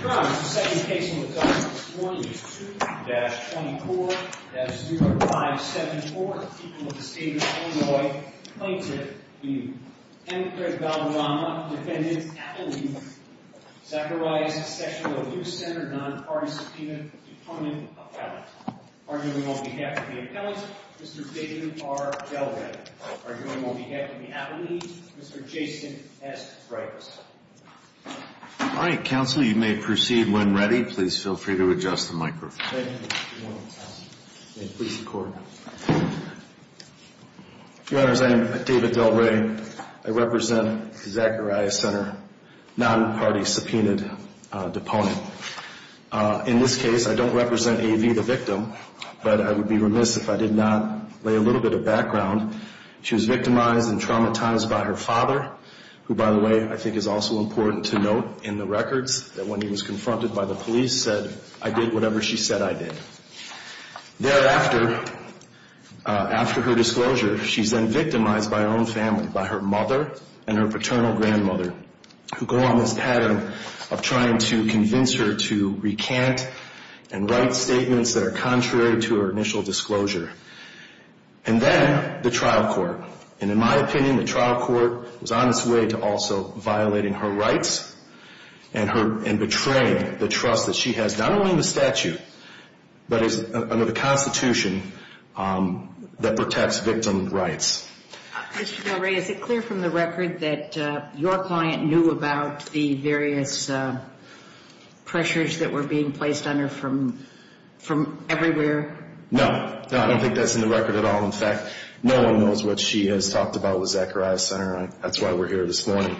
Your Honor, the second case in the document this morning is 2-24-0574, the people of the state of Illinois plaintiff, the Emigre Valderama, defendant, Appellee, Zacharias, Sessional Abuse Center, Non-Party Subpoena, Department of Appellate. Arguing on behalf of the Appellate, Mr. David R. Gallagher. Arguing on behalf of the Appellee, Mr. Jason S. Breyfuss. All right, counsel, you may proceed when ready. Please feel free to adjust the microphone. Your Honor, as I am David Del Rey, I represent Zacharias Center, Non-Party Subpoenaed Deponent. In this case, I don't represent A.V., the victim, but I would be remiss if I did not lay a little bit of background. She was victimized and traumatized by her father, who, by the way, I think is also important to note in the records, that when he was confronted by the police, said, I did whatever she said I did. Thereafter, after her disclosure, she's then victimized by her own family, by her mother and her paternal grandmother, who go on this pattern of trying to convince her to recant and write statements that are contrary to her initial disclosure. And then, the trial court. And in my opinion, the trial court was on its way to also violating her rights and betraying the trust that she has, not only in the statute, but under the Constitution, that protects victim rights. Mr. Del Rey, is it clear from the record that your client knew about the various pressures that were being placed on her from everywhere? No. No, I don't think that's in the record at all. In fact, no one knows what she has talked about with Zacharias Center. That's why we're here this morning.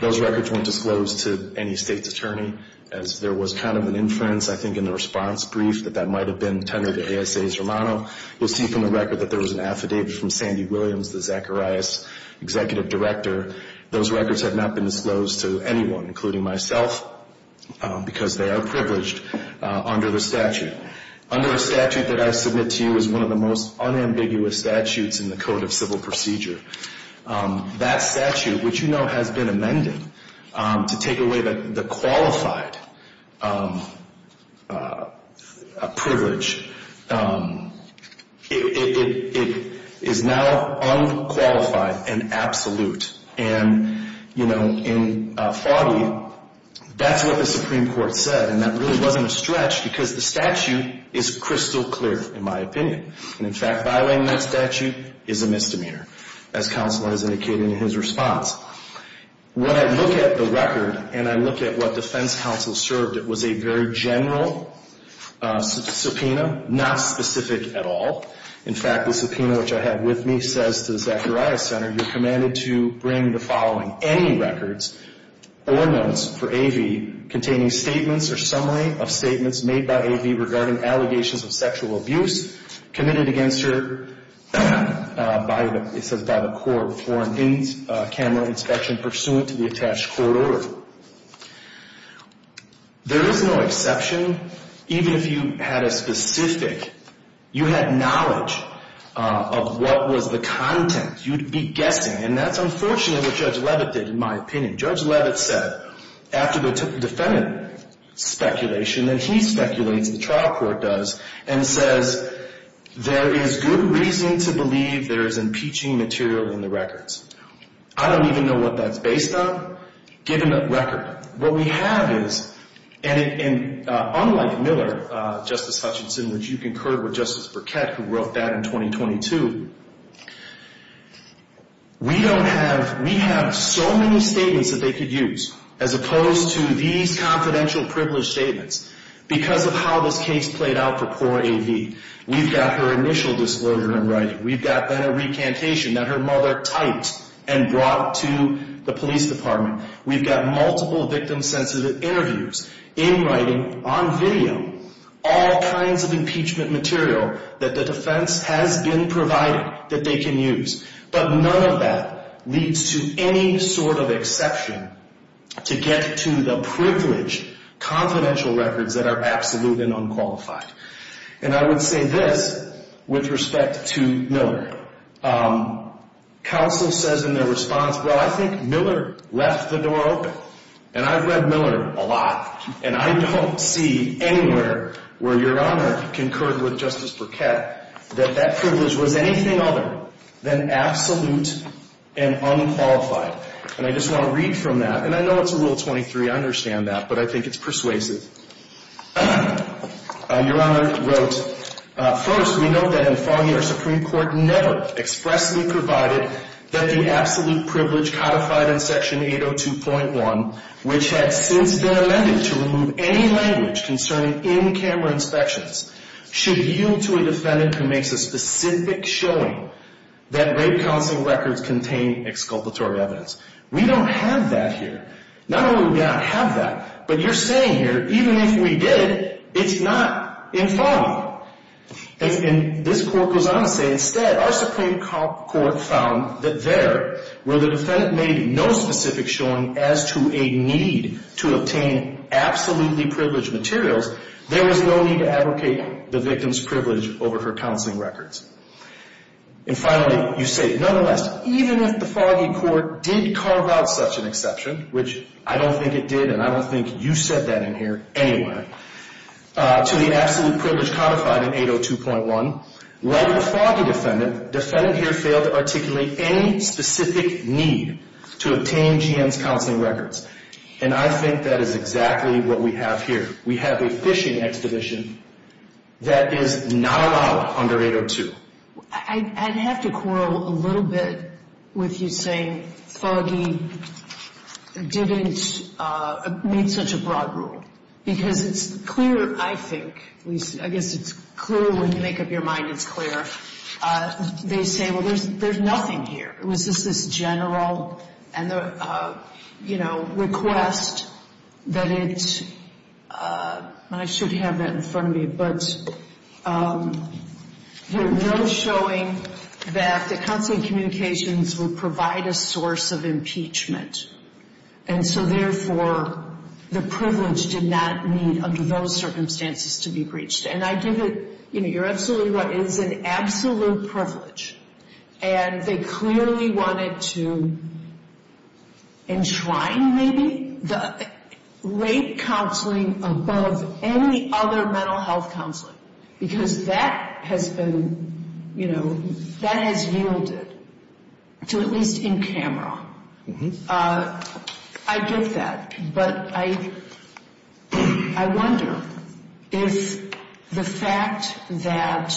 Those records weren't disclosed to any state's attorney, as there was kind of an inference, I think, in the response brief that that might have been tendered to ASA's Romano. You'll see from the record that there was an affidavit from Sandy Williams, the Zacharias Executive Director. Those records have not been disclosed to anyone, including myself, because they are privileged under the statute. Under the statute that I submit to you is one of the most unambiguous statutes in the Code of Civil Procedure. That statute, which you know has been amended to take away the qualified privilege, it is now unqualified and absolute. That's what the Supreme Court said, and that really wasn't a stretch because the statute is crystal clear, in my opinion. In fact, violating that statute is a misdemeanor, as counsel has indicated in his response. When I look at the record and I look at what defense counsel served, it was a very general subpoena, not specific at all. In fact, the subpoena, which I have with me, says to the Zacharias Center, you're commanded to bring the following any records or notes for AV containing statements or summary of statements made by AV regarding allegations of sexual abuse committed against her by the court for a camera inspection pursuant to the attached court order. There is no exception. Even if you had a specific, you had knowledge of what was the content, you'd be guessing. And that's unfortunately what Judge Leavitt did, in my opinion. Judge Leavitt said, after the defendant speculation, and he speculates, the trial court does, and says there is good reason to believe there is impeaching material in the records. I don't even know what that's based on. Given the record, what we have is, and unlike Miller, Justice Hutchinson, which you concurred with Justice Burkett, who wrote that in 2022, we don't have, we have so many statements that they could use, as opposed to these confidential privilege statements. Because of how this case played out for poor AV, we've got her initial disclosure in writing. We've got then a recantation that her mother typed and brought to the police department. We've got multiple victim-sensitive interviews in writing, on video, all kinds of impeachment material that the defense has been provided that they can use. But none of that leads to any sort of exception to get to the privilege confidential records that are absolute and unqualified. And I would say this with respect to Miller. Counsel says in their response, well, I think Miller left the door open. And I've read Miller a lot, and I don't see anywhere where Your Honor concurred with Justice Burkett that that privilege was anything other than absolute and unqualified. And I just want to read from that, and I know it's Rule 23, I understand that, but I think it's persuasive. Your Honor wrote, First, we note that in Foggy, our Supreme Court never expressly provided that the absolute privilege codified in Section 802.1, which had since been amended to remove any language concerning in-camera inspections, should yield to a defendant who makes a specific showing that rape counseling records contain exculpatory evidence. We don't have that here. Not only do we not have that, but you're saying here, even if we did, it's not in Foggy. And this Court goes on to say, Instead, our Supreme Court found that there, where the defendant made no specific showing as to a need to obtain absolutely privileged materials, there was no need to abrogate the victim's privilege over her counseling records. And finally, you say, Nonetheless, even if the Foggy Court did carve out such an exception, which I don't think it did, and I don't think you said that in here anyway, to the absolute privilege codified in 802.1, let the Foggy defendant here fail to articulate any specific need to obtain GM's counseling records. And I think that is exactly what we have here. We have a phishing exhibition that is not allowed under 802. I'd have to quarrel a little bit with you saying Foggy didn't meet such a broad rule. Because it's clear, I think, at least I guess it's clear when you make up your mind it's clear, they say, well, there's nothing here. It was just this general request that it, and I should have that in front of me, but there was no showing that the counseling communications would provide a source of impeachment. And so therefore, the privilege did not meet under those circumstances to be breached. And I give it, you're absolutely right, it is an absolute privilege. And they clearly wanted to enshrine maybe the rape counseling above any other mental health counseling. Because that has been, you know, that has yielded to at least in camera. I get that. But I wonder if the fact that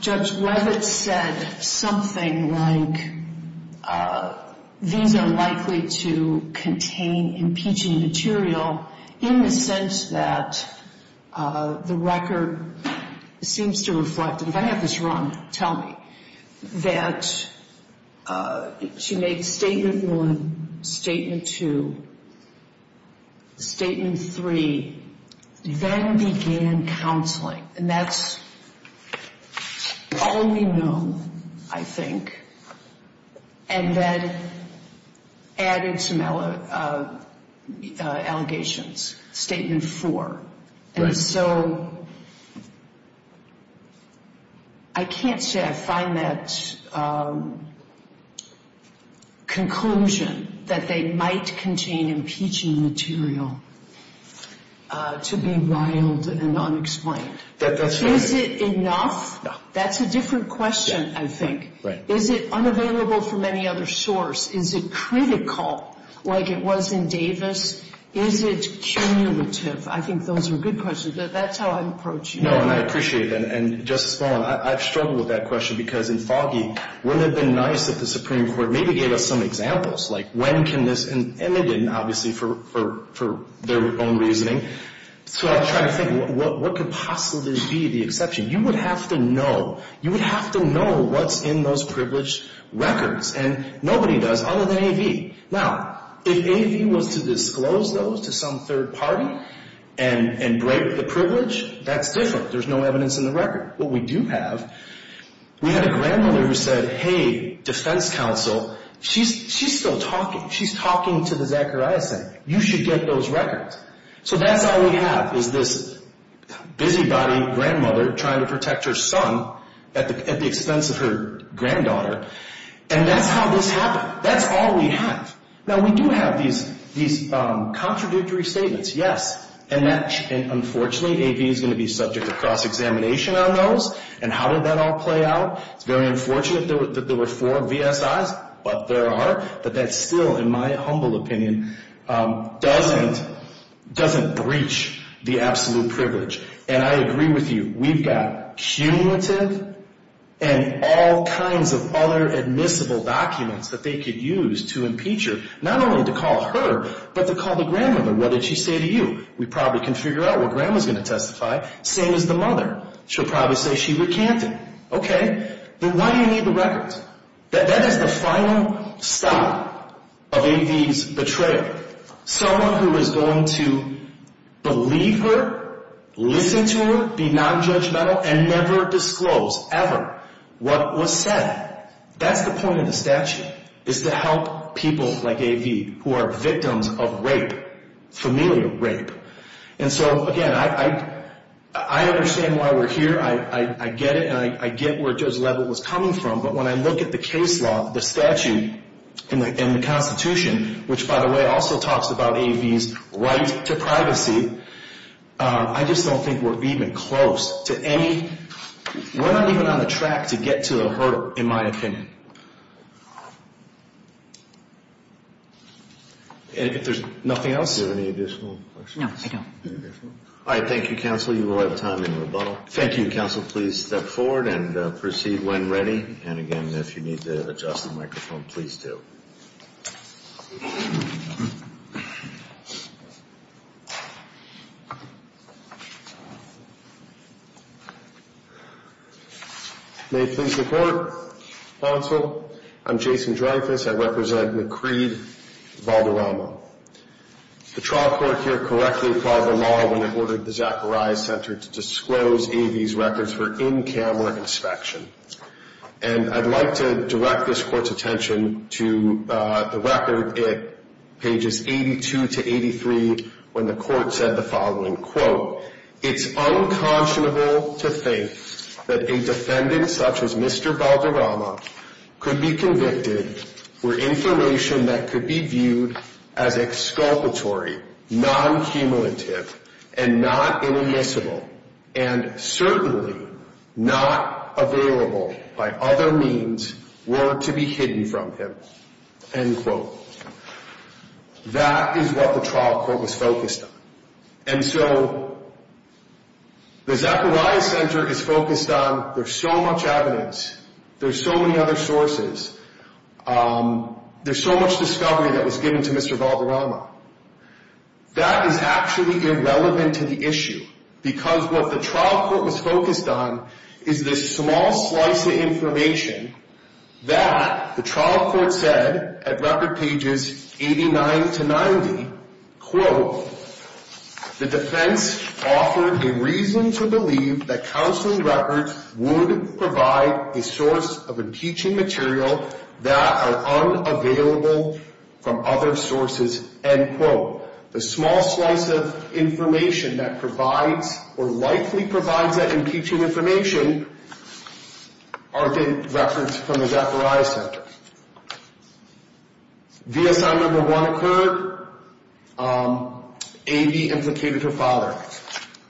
Judge Levitt said something like these are likely to contain impeaching material in the sense that the record seems to reflect, if I have this wrong, tell me, that she made Statement 1, Statement 2, Statement 3, then began counseling. And that's all we know, I think. And then added some allegations, Statement 4. And so I can't say I find that conclusion that they might contain impeaching material to be wild and unexplained. Is it enough? That's a different question, I think. Is it unavailable from any other source? Is it critical like it was in Davis? Is it cumulative? I think those are good questions. That's how I'd approach you. No, and I appreciate that. And Justice Mullen, I've struggled with that question because in Foggy, wouldn't it have been nice if the Supreme Court maybe gave us some examples? Like when can this, and they didn't, obviously, for their own reasoning. So I'm trying to think, what could possibly be the exception? You would have to know. You would have to know what's in those privileged records. And nobody does other than AV. Now, if AV was to disclose those to some third party and break the privilege, that's different. There's no evidence in the record. What we do have, we had a grandmother who said, hey, defense counsel, she's still talking. She's talking to the Zachariah Senate. You should get those records. So that's all we have is this busybody grandmother trying to protect her son at the expense of her granddaughter. And that's how this happened. Now, that's all we have. Now, we do have these contradictory statements, yes. And unfortunately, AV is going to be subject to cross-examination on those. And how did that all play out? It's very unfortunate that there were four VSIs, but there are. But that still, in my humble opinion, doesn't breach the absolute privilege. And I agree with you. We've got cumulative and all kinds of other admissible documents that they could use to impeach her. Not only to call her, but to call the grandmother. What did she say to you? We probably can figure out what grandma's going to testify. Same as the mother. She'll probably say she recanted. Okay. Then why do you need the records? That is the final stop of AV's betrayal. Someone who is going to believe her, listen to her, be nonjudgmental, and never disclose ever what was said. That's the point of the statute, is to help people like AV who are victims of rape, familial rape. And so, again, I understand why we're here. I get it, and I get where Judge Leavitt was coming from. But when I look at the case law, the statute, and the Constitution, which, by the way, also talks about AV's right to privacy, I just don't think we're even close to any, we're not even on the track to get to her, in my opinion. If there's nothing else? Do you have any additional questions? No, I don't. All right, thank you, counsel. You will have time in rebuttal. Thank you, counsel. Counsel, please step forward and proceed when ready. And, again, if you need to adjust the microphone, please do. May it please the Court. Counsel, I'm Jason Dreyfuss. I represent Macreed Valderrama. The trial court here correctly called the law when it ordered the Zacharias Center to disclose AV's records for in-camera inspection. And I'd like to direct this Court's attention to the record at pages 82 to 83 when the Court said the following, quote, it's unconscionable to think that a defendant such as Mr. Valderrama could be convicted for information that could be viewed as exculpatory, non-cumulative, and not inadmissible, and certainly not available by other means were to be hidden from him, end quote. That is what the trial court was focused on. And so the Zacharias Center is focused on there's so much evidence, there's so many other sources, there's so much discovery that was given to Mr. Valderrama. That is actually irrelevant to the issue because what the trial court was focused on is this small slice of information that the trial court said at record pages 89 to 90, quote, the defense offered a reason to believe that counseling records would provide a source of impeaching material that are unavailable from other sources, end quote. The small slice of information that provides or likely provides that impeaching information are the records from the Zacharias Center. VSI number one occurred, A.B. implicated her father.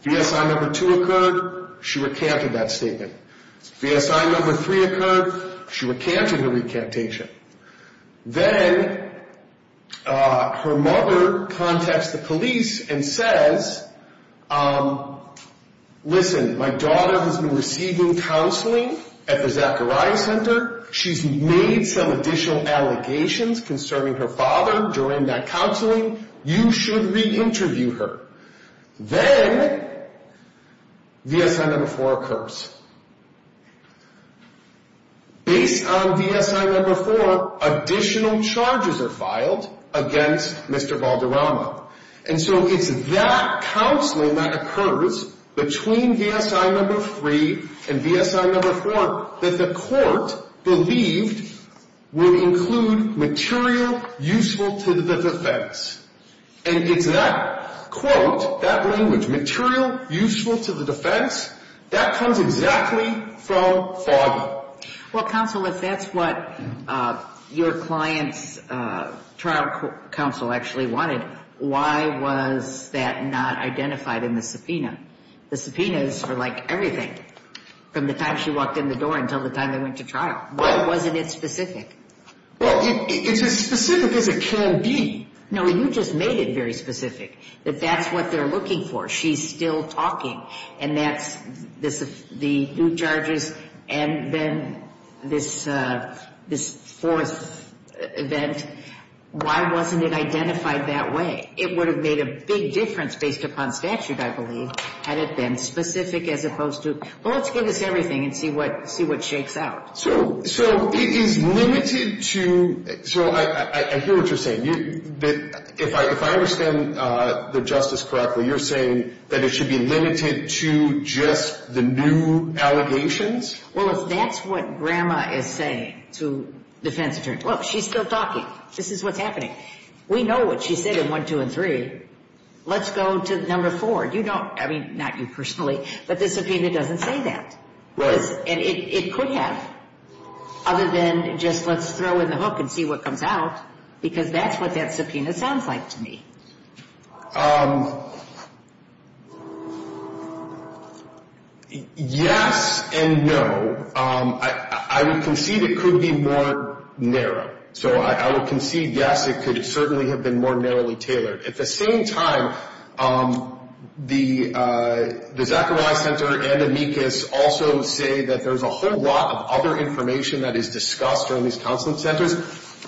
VSI number two occurred, she recanted that statement. VSI number three occurred, she recanted her recantation. Then her mother contacts the police and says, listen, my daughter has been receiving counseling at the Zacharias Center. She's made some additional allegations concerning her father during that counseling. You should re-interview her. Then VSI number four occurs. Based on VSI number four, additional charges are filed against Mr. Valderrama. And so it's that counseling that occurs between VSI number three and VSI number four that the court believed would include material useful to the defense. And it's that quote, that language, material useful to the defense, that comes exactly from father. Well, counsel, if that's what your client's trial counsel actually wanted, why was that not identified in the subpoena? The subpoenas are like everything from the time she walked in the door until the time they went to trial. Why wasn't it specific? Well, it's as specific as it can be. No, you just made it very specific, that that's what they're looking for. She's still talking, and that's the new charges and then this fourth event. Why wasn't it identified that way? It would have made a big difference based upon statute, I believe, had it been specific as opposed to, well, let's give this everything and see what shakes out. So it is limited to, so I hear what you're saying. If I understand the justice correctly, you're saying that it should be limited to just the new allegations? Well, if that's what grandma is saying to defense attorneys, look, she's still talking. This is what's happening. We know what she said in one, two, and three. Let's go to number four. You don't, I mean, not you personally, but the subpoena doesn't say that. It could have, other than just let's throw in the hook and see what comes out, because that's what that subpoena sounds like to me. Yes and no. I would concede it could be more narrow. So I would concede, yes, it could certainly have been more narrowly tailored. At the same time, the Zachariah Center and amicus also say that there's a whole lot of other information that is discussed around these counseling centers,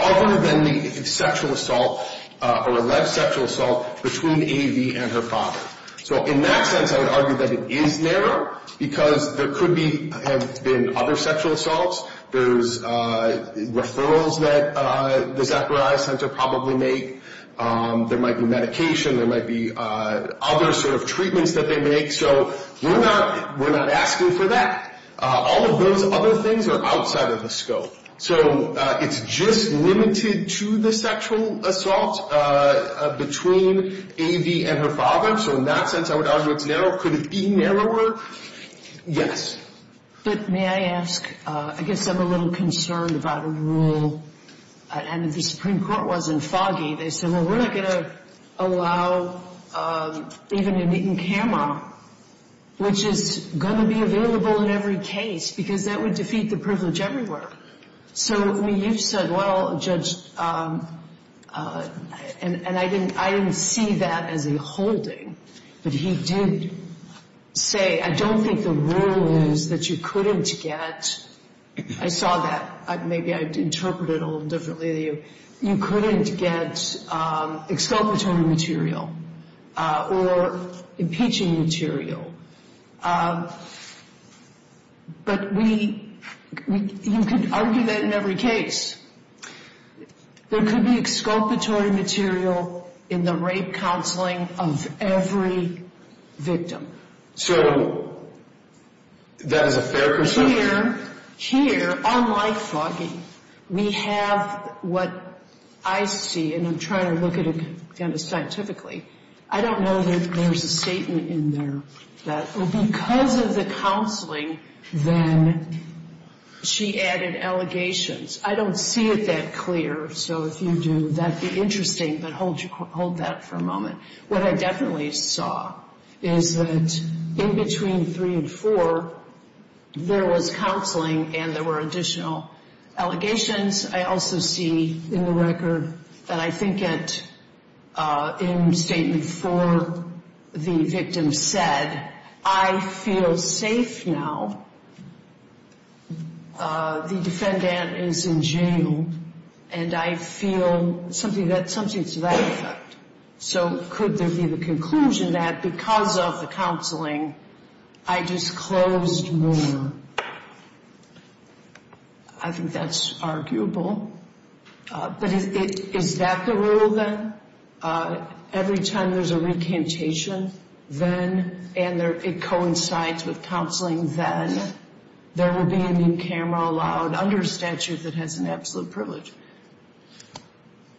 other than the sexual assault or alleged sexual assault between A.V. and her father. So in that sense, I would argue that it is narrow because there could have been other sexual assaults. There's referrals that the Zachariah Center probably make. There might be medication. There might be other sort of treatments that they make. So we're not asking for that. All of those other things are outside of the scope. So it's just limited to the sexual assault between A.V. and her father. So in that sense, I would argue it's narrow. Could it be narrower? Yes. But may I ask, I guess I'm a little concerned about a rule. And if the Supreme Court wasn't foggy, they said, well, we're not going to allow even a meet-and-camera, which is going to be available in every case because that would defeat the privilege everywhere. So, I mean, you've said, well, Judge, and I didn't see that as a holding. But he did say, I don't think the rule is that you couldn't get. I saw that. Maybe I interpreted it a little differently than you. You couldn't get exculpatory material or impeaching material. But you could argue that in every case. There could be exculpatory material in the rape counseling of every victim. So that is a fair concern? Here, unlike foggy, we have what I see, and I'm trying to look at it kind of scientifically. I don't know that there's a statement in there that because of the counseling, then she added allegations. I don't see it that clear. So if you do, that would be interesting. But hold that for a moment. What I definitely saw is that in between three and four, there was counseling and there were additional allegations. I also see in the record, and I think it in statement four, the victim said, I feel safe now. The defendant is in jail, and I feel something to that effect. So could there be the conclusion that because of the counseling, I disclosed more? I think that's arguable. But is that the rule, then? Every time there's a recantation, then, and it coincides with counseling, then, there will be a new camera allowed under statute that has an absolute privilege.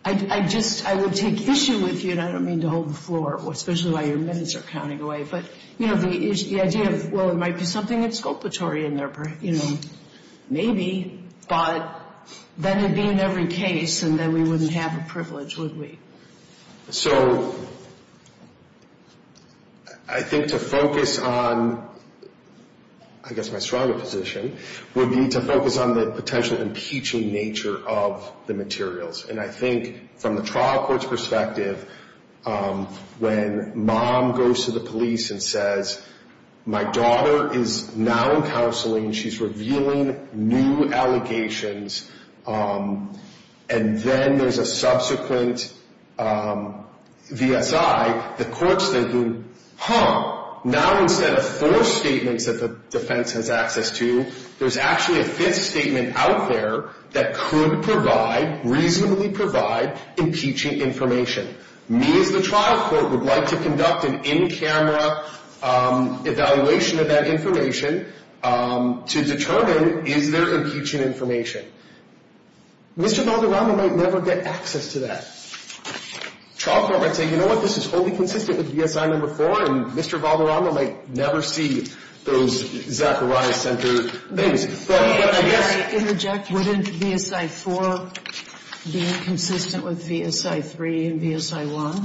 I just, I would take issue with you, and I don't mean to hold the floor, especially while your minutes are counting away, but, you know, the idea of, well, it might be something that's culpatory in their, you know, maybe, but then it'd be in every case, and then we wouldn't have a privilege, would we? So I think to focus on, I guess my stronger position, would be to focus on the potential impeaching nature of the materials. And I think from the trial court's perspective, when mom goes to the police and says, my daughter is now in counseling, she's revealing new allegations, and then there's a subsequent VSI, the court's thinking, huh, now instead of four statements that the defense has access to, there's actually a fifth statement out there that could provide, reasonably provide, impeaching information. Me, as the trial court, would like to conduct an in-camera evaluation of that information to determine, is there impeaching information? Mr. Valderrama might never get access to that. Trial court might say, you know what, this is wholly consistent with VSI number four, and Mr. Valderrama might never see those Zacharias Center things. Wouldn't VSI four be inconsistent with VSI three and VSI one?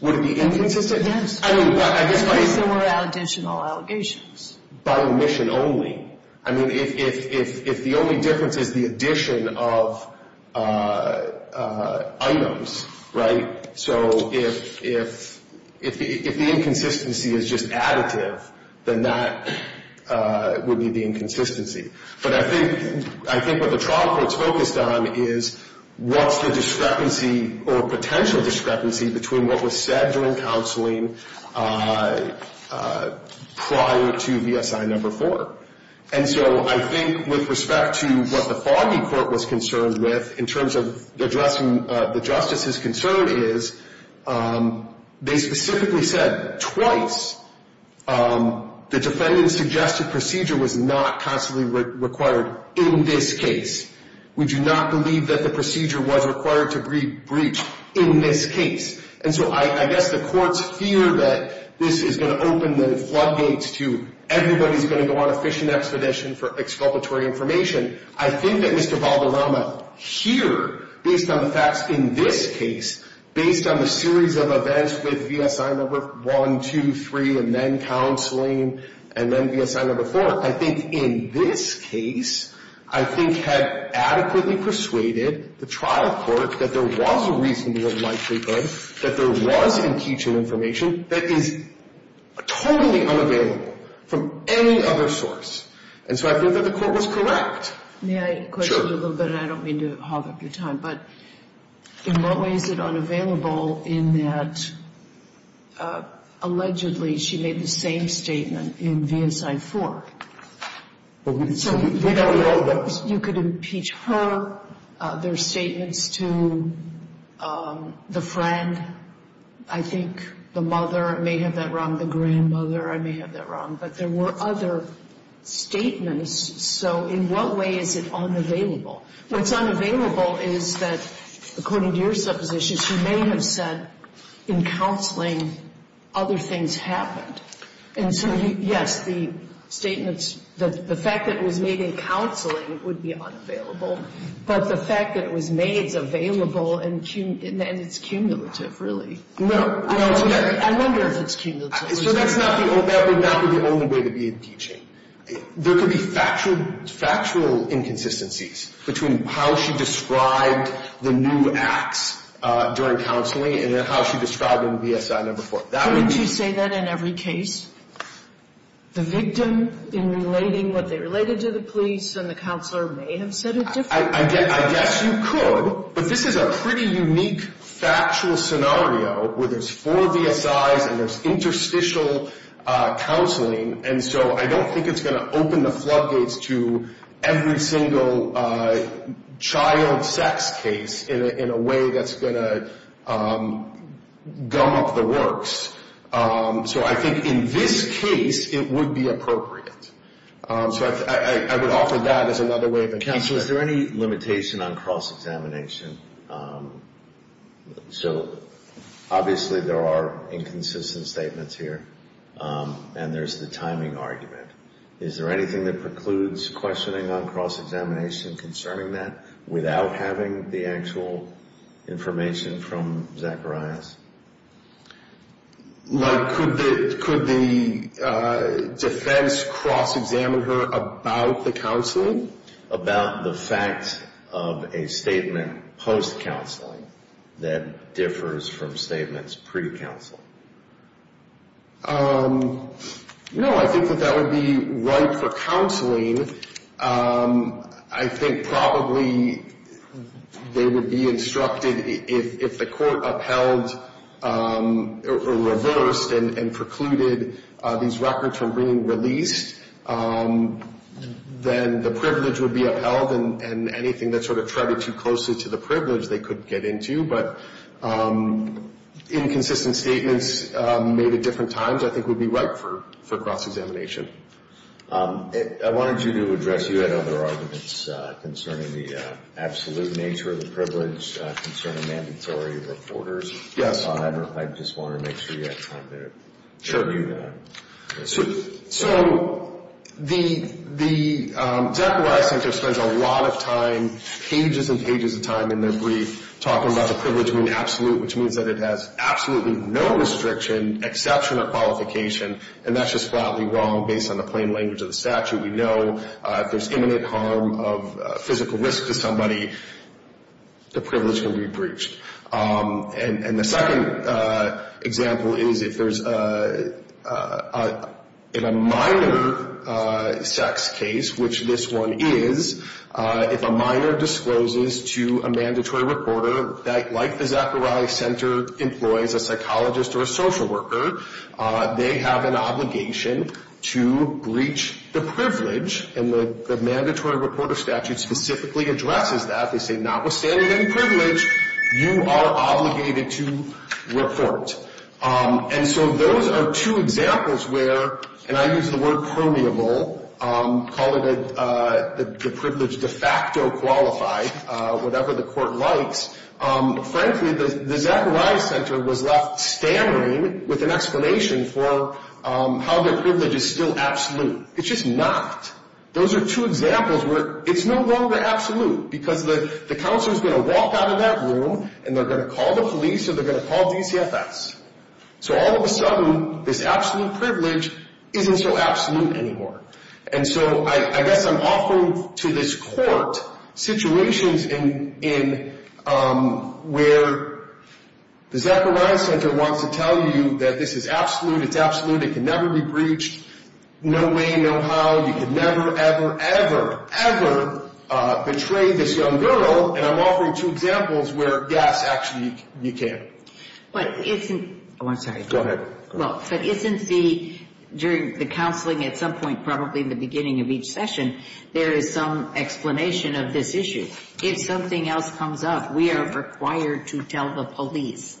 Would it be inconsistent? Yes. I mean, but I guess by... If there were additional allegations. By omission only. I mean, if the only difference is the addition of items, right, so if the inconsistency is just additive, then that would be the inconsistency. But I think what the trial court's focused on is what's the discrepancy or potential discrepancy between what was said during counseling prior to VSI number four. And so I think with respect to what the Foggy Court was concerned with, in terms of addressing the justice's concern is they specifically said twice the defendant's suggested procedure was not constantly required in this case. We do not believe that the procedure was required to be breached in this case. And so I guess the courts fear that this is going to open the floodgates to everybody's going to go on a fishing expedition for exculpatory information. I think that Mr. Balderrama here, based on the facts in this case, based on the series of events with VSI number one, two, three, and then counseling, and then VSI number four, I think in this case I think had adequately persuaded the trial court that there was a reasonable likelihood that there was impeachment information that is totally unavailable from any other source. And so I feel that the court was correct. Sure. May I question you a little bit? I don't mean to hog up your time. But in what way is it unavailable in that allegedly she made the same statement in VSI four? So you could impeach her. There are statements to the friend. I think the mother may have that wrong. The grandmother, I may have that wrong. But there were other statements. So in what way is it unavailable? What's unavailable is that, according to your supposition, she may have said in counseling other things happened. And so, yes, the statements, the fact that it was made in counseling would be unavailable. But the fact that it was made is available and it's cumulative, really. No. I wonder if it's cumulative. So that would not be the only way to be impeaching. There could be factual inconsistencies between how she described the new acts during counseling and how she described them in VSI number four. Couldn't you say that in every case? The victim in relating what they related to the police and the counselor may have said it differently. I guess you could. But this is a pretty unique factual scenario where there's four VSIs and there's interstitial counseling, and so I don't think it's going to open the floodgates to every single child sex case in a way that's going to gum up the works. So I think in this case it would be appropriate. So I would offer that as another way of counseling. Counsel, is there any limitation on cross-examination? So obviously there are inconsistent statements here, and there's the timing argument. Is there anything that precludes questioning on cross-examination concerning that without having the actual information from Zacharias? Like could the defense cross-examine her about the counseling? About the fact of a statement post-counseling that differs from statements pre-counseling. No, I think that that would be right for counseling. I think probably they would be instructed if the court upheld or reversed and precluded these records from being released, then the privilege would be upheld and anything that sort of treaded too closely to the privilege they could get into. But inconsistent statements made at different times I think would be right for cross-examination. Thank you. I wanted you to address, you had other arguments concerning the absolute nature of the privilege, concerning mandatory reporters. Yes. I just wanted to make sure you had time there. Sure. So the Zacharias Center spends a lot of time, pages and pages of time in their brief, talking about the privilege being absolute, which means that it has absolutely no restriction, exception, or qualification. And that's just flatly wrong based on the plain language of the statute. We know if there's imminent harm of physical risk to somebody, the privilege can be breached. And the second example is if there's in a minor sex case, which this one is, if a minor discloses to a mandatory reporter that, like the Zacharias Center, employs a psychologist or a social worker, they have an obligation to breach the privilege. And the mandatory reporter statute specifically addresses that. They say notwithstanding any privilege, you are obligated to report. And so those are two examples where, and I use the word permeable, call it the privilege de facto qualified, whatever the court likes. Frankly, the Zacharias Center was left stammering with an explanation for how their privilege is still absolute. It's just not. Those are two examples where it's no longer absolute because the counselor is going to walk out of that room and they're going to call the police or they're going to call DCFS. So all of a sudden, this absolute privilege isn't so absolute anymore. And so I guess I'm offering to this court situations where the Zacharias Center wants to tell you that this is absolute, it's absolute, it can never be breached, no way, no how, you can never, ever, ever, ever betray this young girl. And I'm offering two examples where, yes, actually you can. But isn't, oh, I'm sorry. Go ahead. Well, but isn't the, during the counseling at some point, probably in the beginning of each session, there is some explanation of this issue. If something else comes up, we are required to tell the police.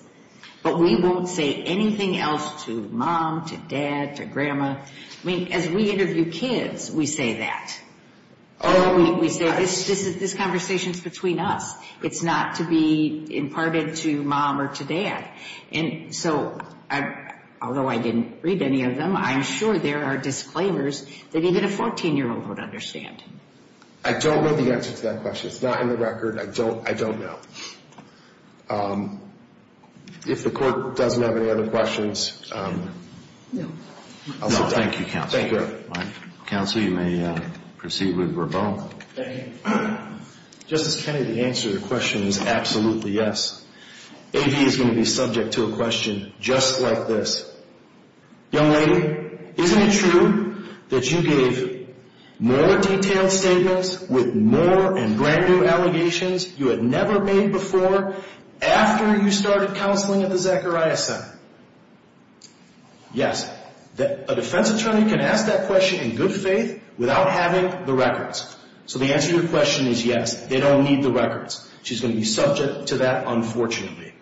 But we won't say anything else to mom, to dad, to grandma. I mean, as we interview kids, we say that. Oh, we say this conversation is between us. It's not to be imparted to mom or to dad. And so, although I didn't read any of them, I'm sure there are disclaimers that even a 14-year-old would understand. I don't know the answer to that question. It's not in the record. I don't know. If the court doesn't have any other questions, I'll sit down. No, thank you, Counselor. Thank you. Counsel, you may proceed with your vote. Thank you. Justice Kennedy, the answer to your question is absolutely yes. AV is going to be subject to a question just like this. Young lady, isn't it true that you gave more detailed statements with more and brand new allegations you had never made before after you started counseling at the Zacharias Center? Yes. A defense attorney can ask that question in good faith without having the records. So the answer to your question is yes, they don't need the records. She's going to be subject to that, unfortunately.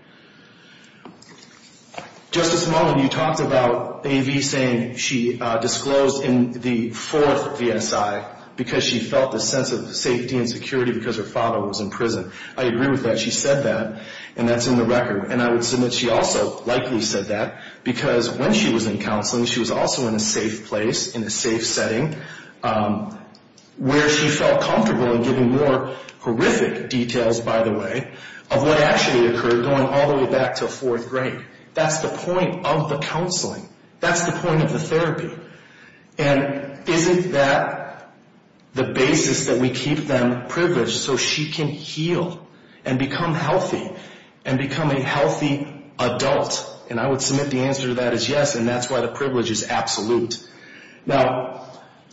Justice Mullin, you talked about AV saying she disclosed in the fourth VSI because she felt a sense of safety and security because her father was in prison. I agree with that. She said that, and that's in the record. And I would submit she also likely said that because when she was in counseling, she was also in a safe place, in a safe setting where she felt comfortable in giving more horrific details, by the way, of what actually occurred going all the way back to fourth grade. That's the point of the counseling. That's the point of the therapy. And isn't that the basis that we keep them privileged so she can heal and become healthy and become a healthy adult? And I would submit the answer to that is yes, and that's why the privilege is absolute. Now,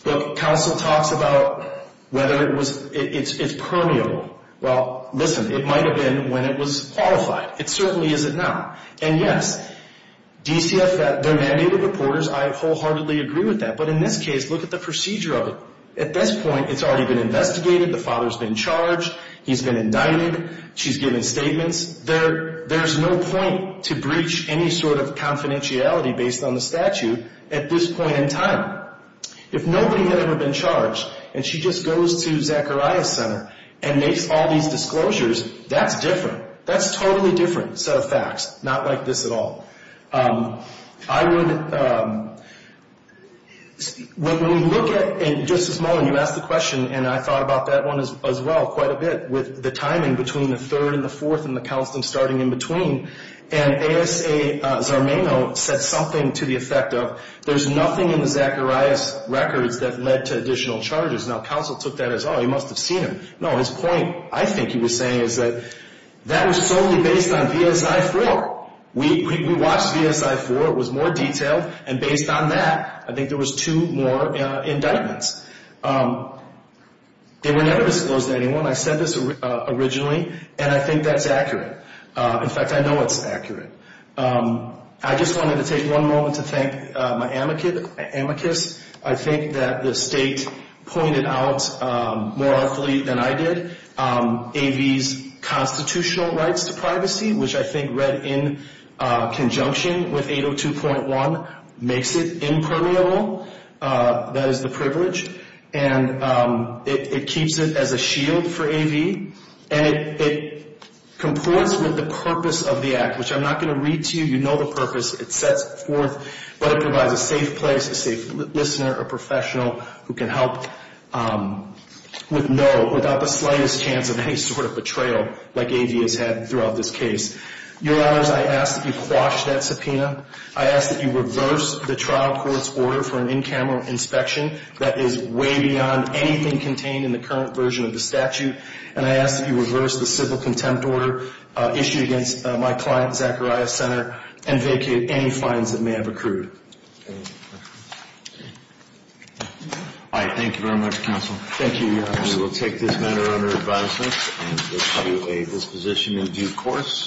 counsel talks about whether it's permeable. Well, listen, it might have been when it was qualified. It certainly isn't now. And, yes, DCFF, they're mandated reporters. I wholeheartedly agree with that. But in this case, look at the procedure of it. At this point, it's already been investigated. The father's been charged. He's been indicted. She's given statements. There's no point to breach any sort of confidentiality based on the statute at this point in time. If nobody had ever been charged and she just goes to Zacharias Center and makes all these disclosures, that's different. That's a totally different set of facts, not like this at all. When we look at it, and Justice Mullin, you asked the question, and I thought about that one as well quite a bit with the timing between the third and the fourth and the counseling starting in between. And ASA Zarmaino said something to the effect of, there's nothing in the Zacharias records that led to additional charges. Now, counsel took that as, oh, he must have seen them. No, his point, I think he was saying, is that that was solely based on VSI-4. We watched VSI-4. It was more detailed. And based on that, I think there was two more indictments. They were never disclosed to anyone. I said this originally, and I think that's accurate. In fact, I know it's accurate. I just wanted to take one moment to thank my amicus. I think that the state pointed out, more awfully than I did, AV's constitutional rights to privacy, which I think read in conjunction with 802.1, makes it impermeable. That is the privilege. And it keeps it as a shield for AV. And it comports with the purpose of the act, which I'm not going to read to you. You know the purpose. It sets forth what it provides, a safe place, a safe listener, a professional who can help with no, without the slightest chance of any sort of betrayal like AV has had throughout this case. Your Honors, I ask that you quash that subpoena. I ask that you reverse the trial court's order for an in-camera inspection that is way beyond anything contained in the current version of the statute. And I ask that you reverse the civil contempt order issued against my client, Zachariah Senator, and vacate any fines that may have accrued. All right. Thank you very much, Counsel. Thank you, Your Honors. We will take this matter under advisement, and AV is positioned in due course.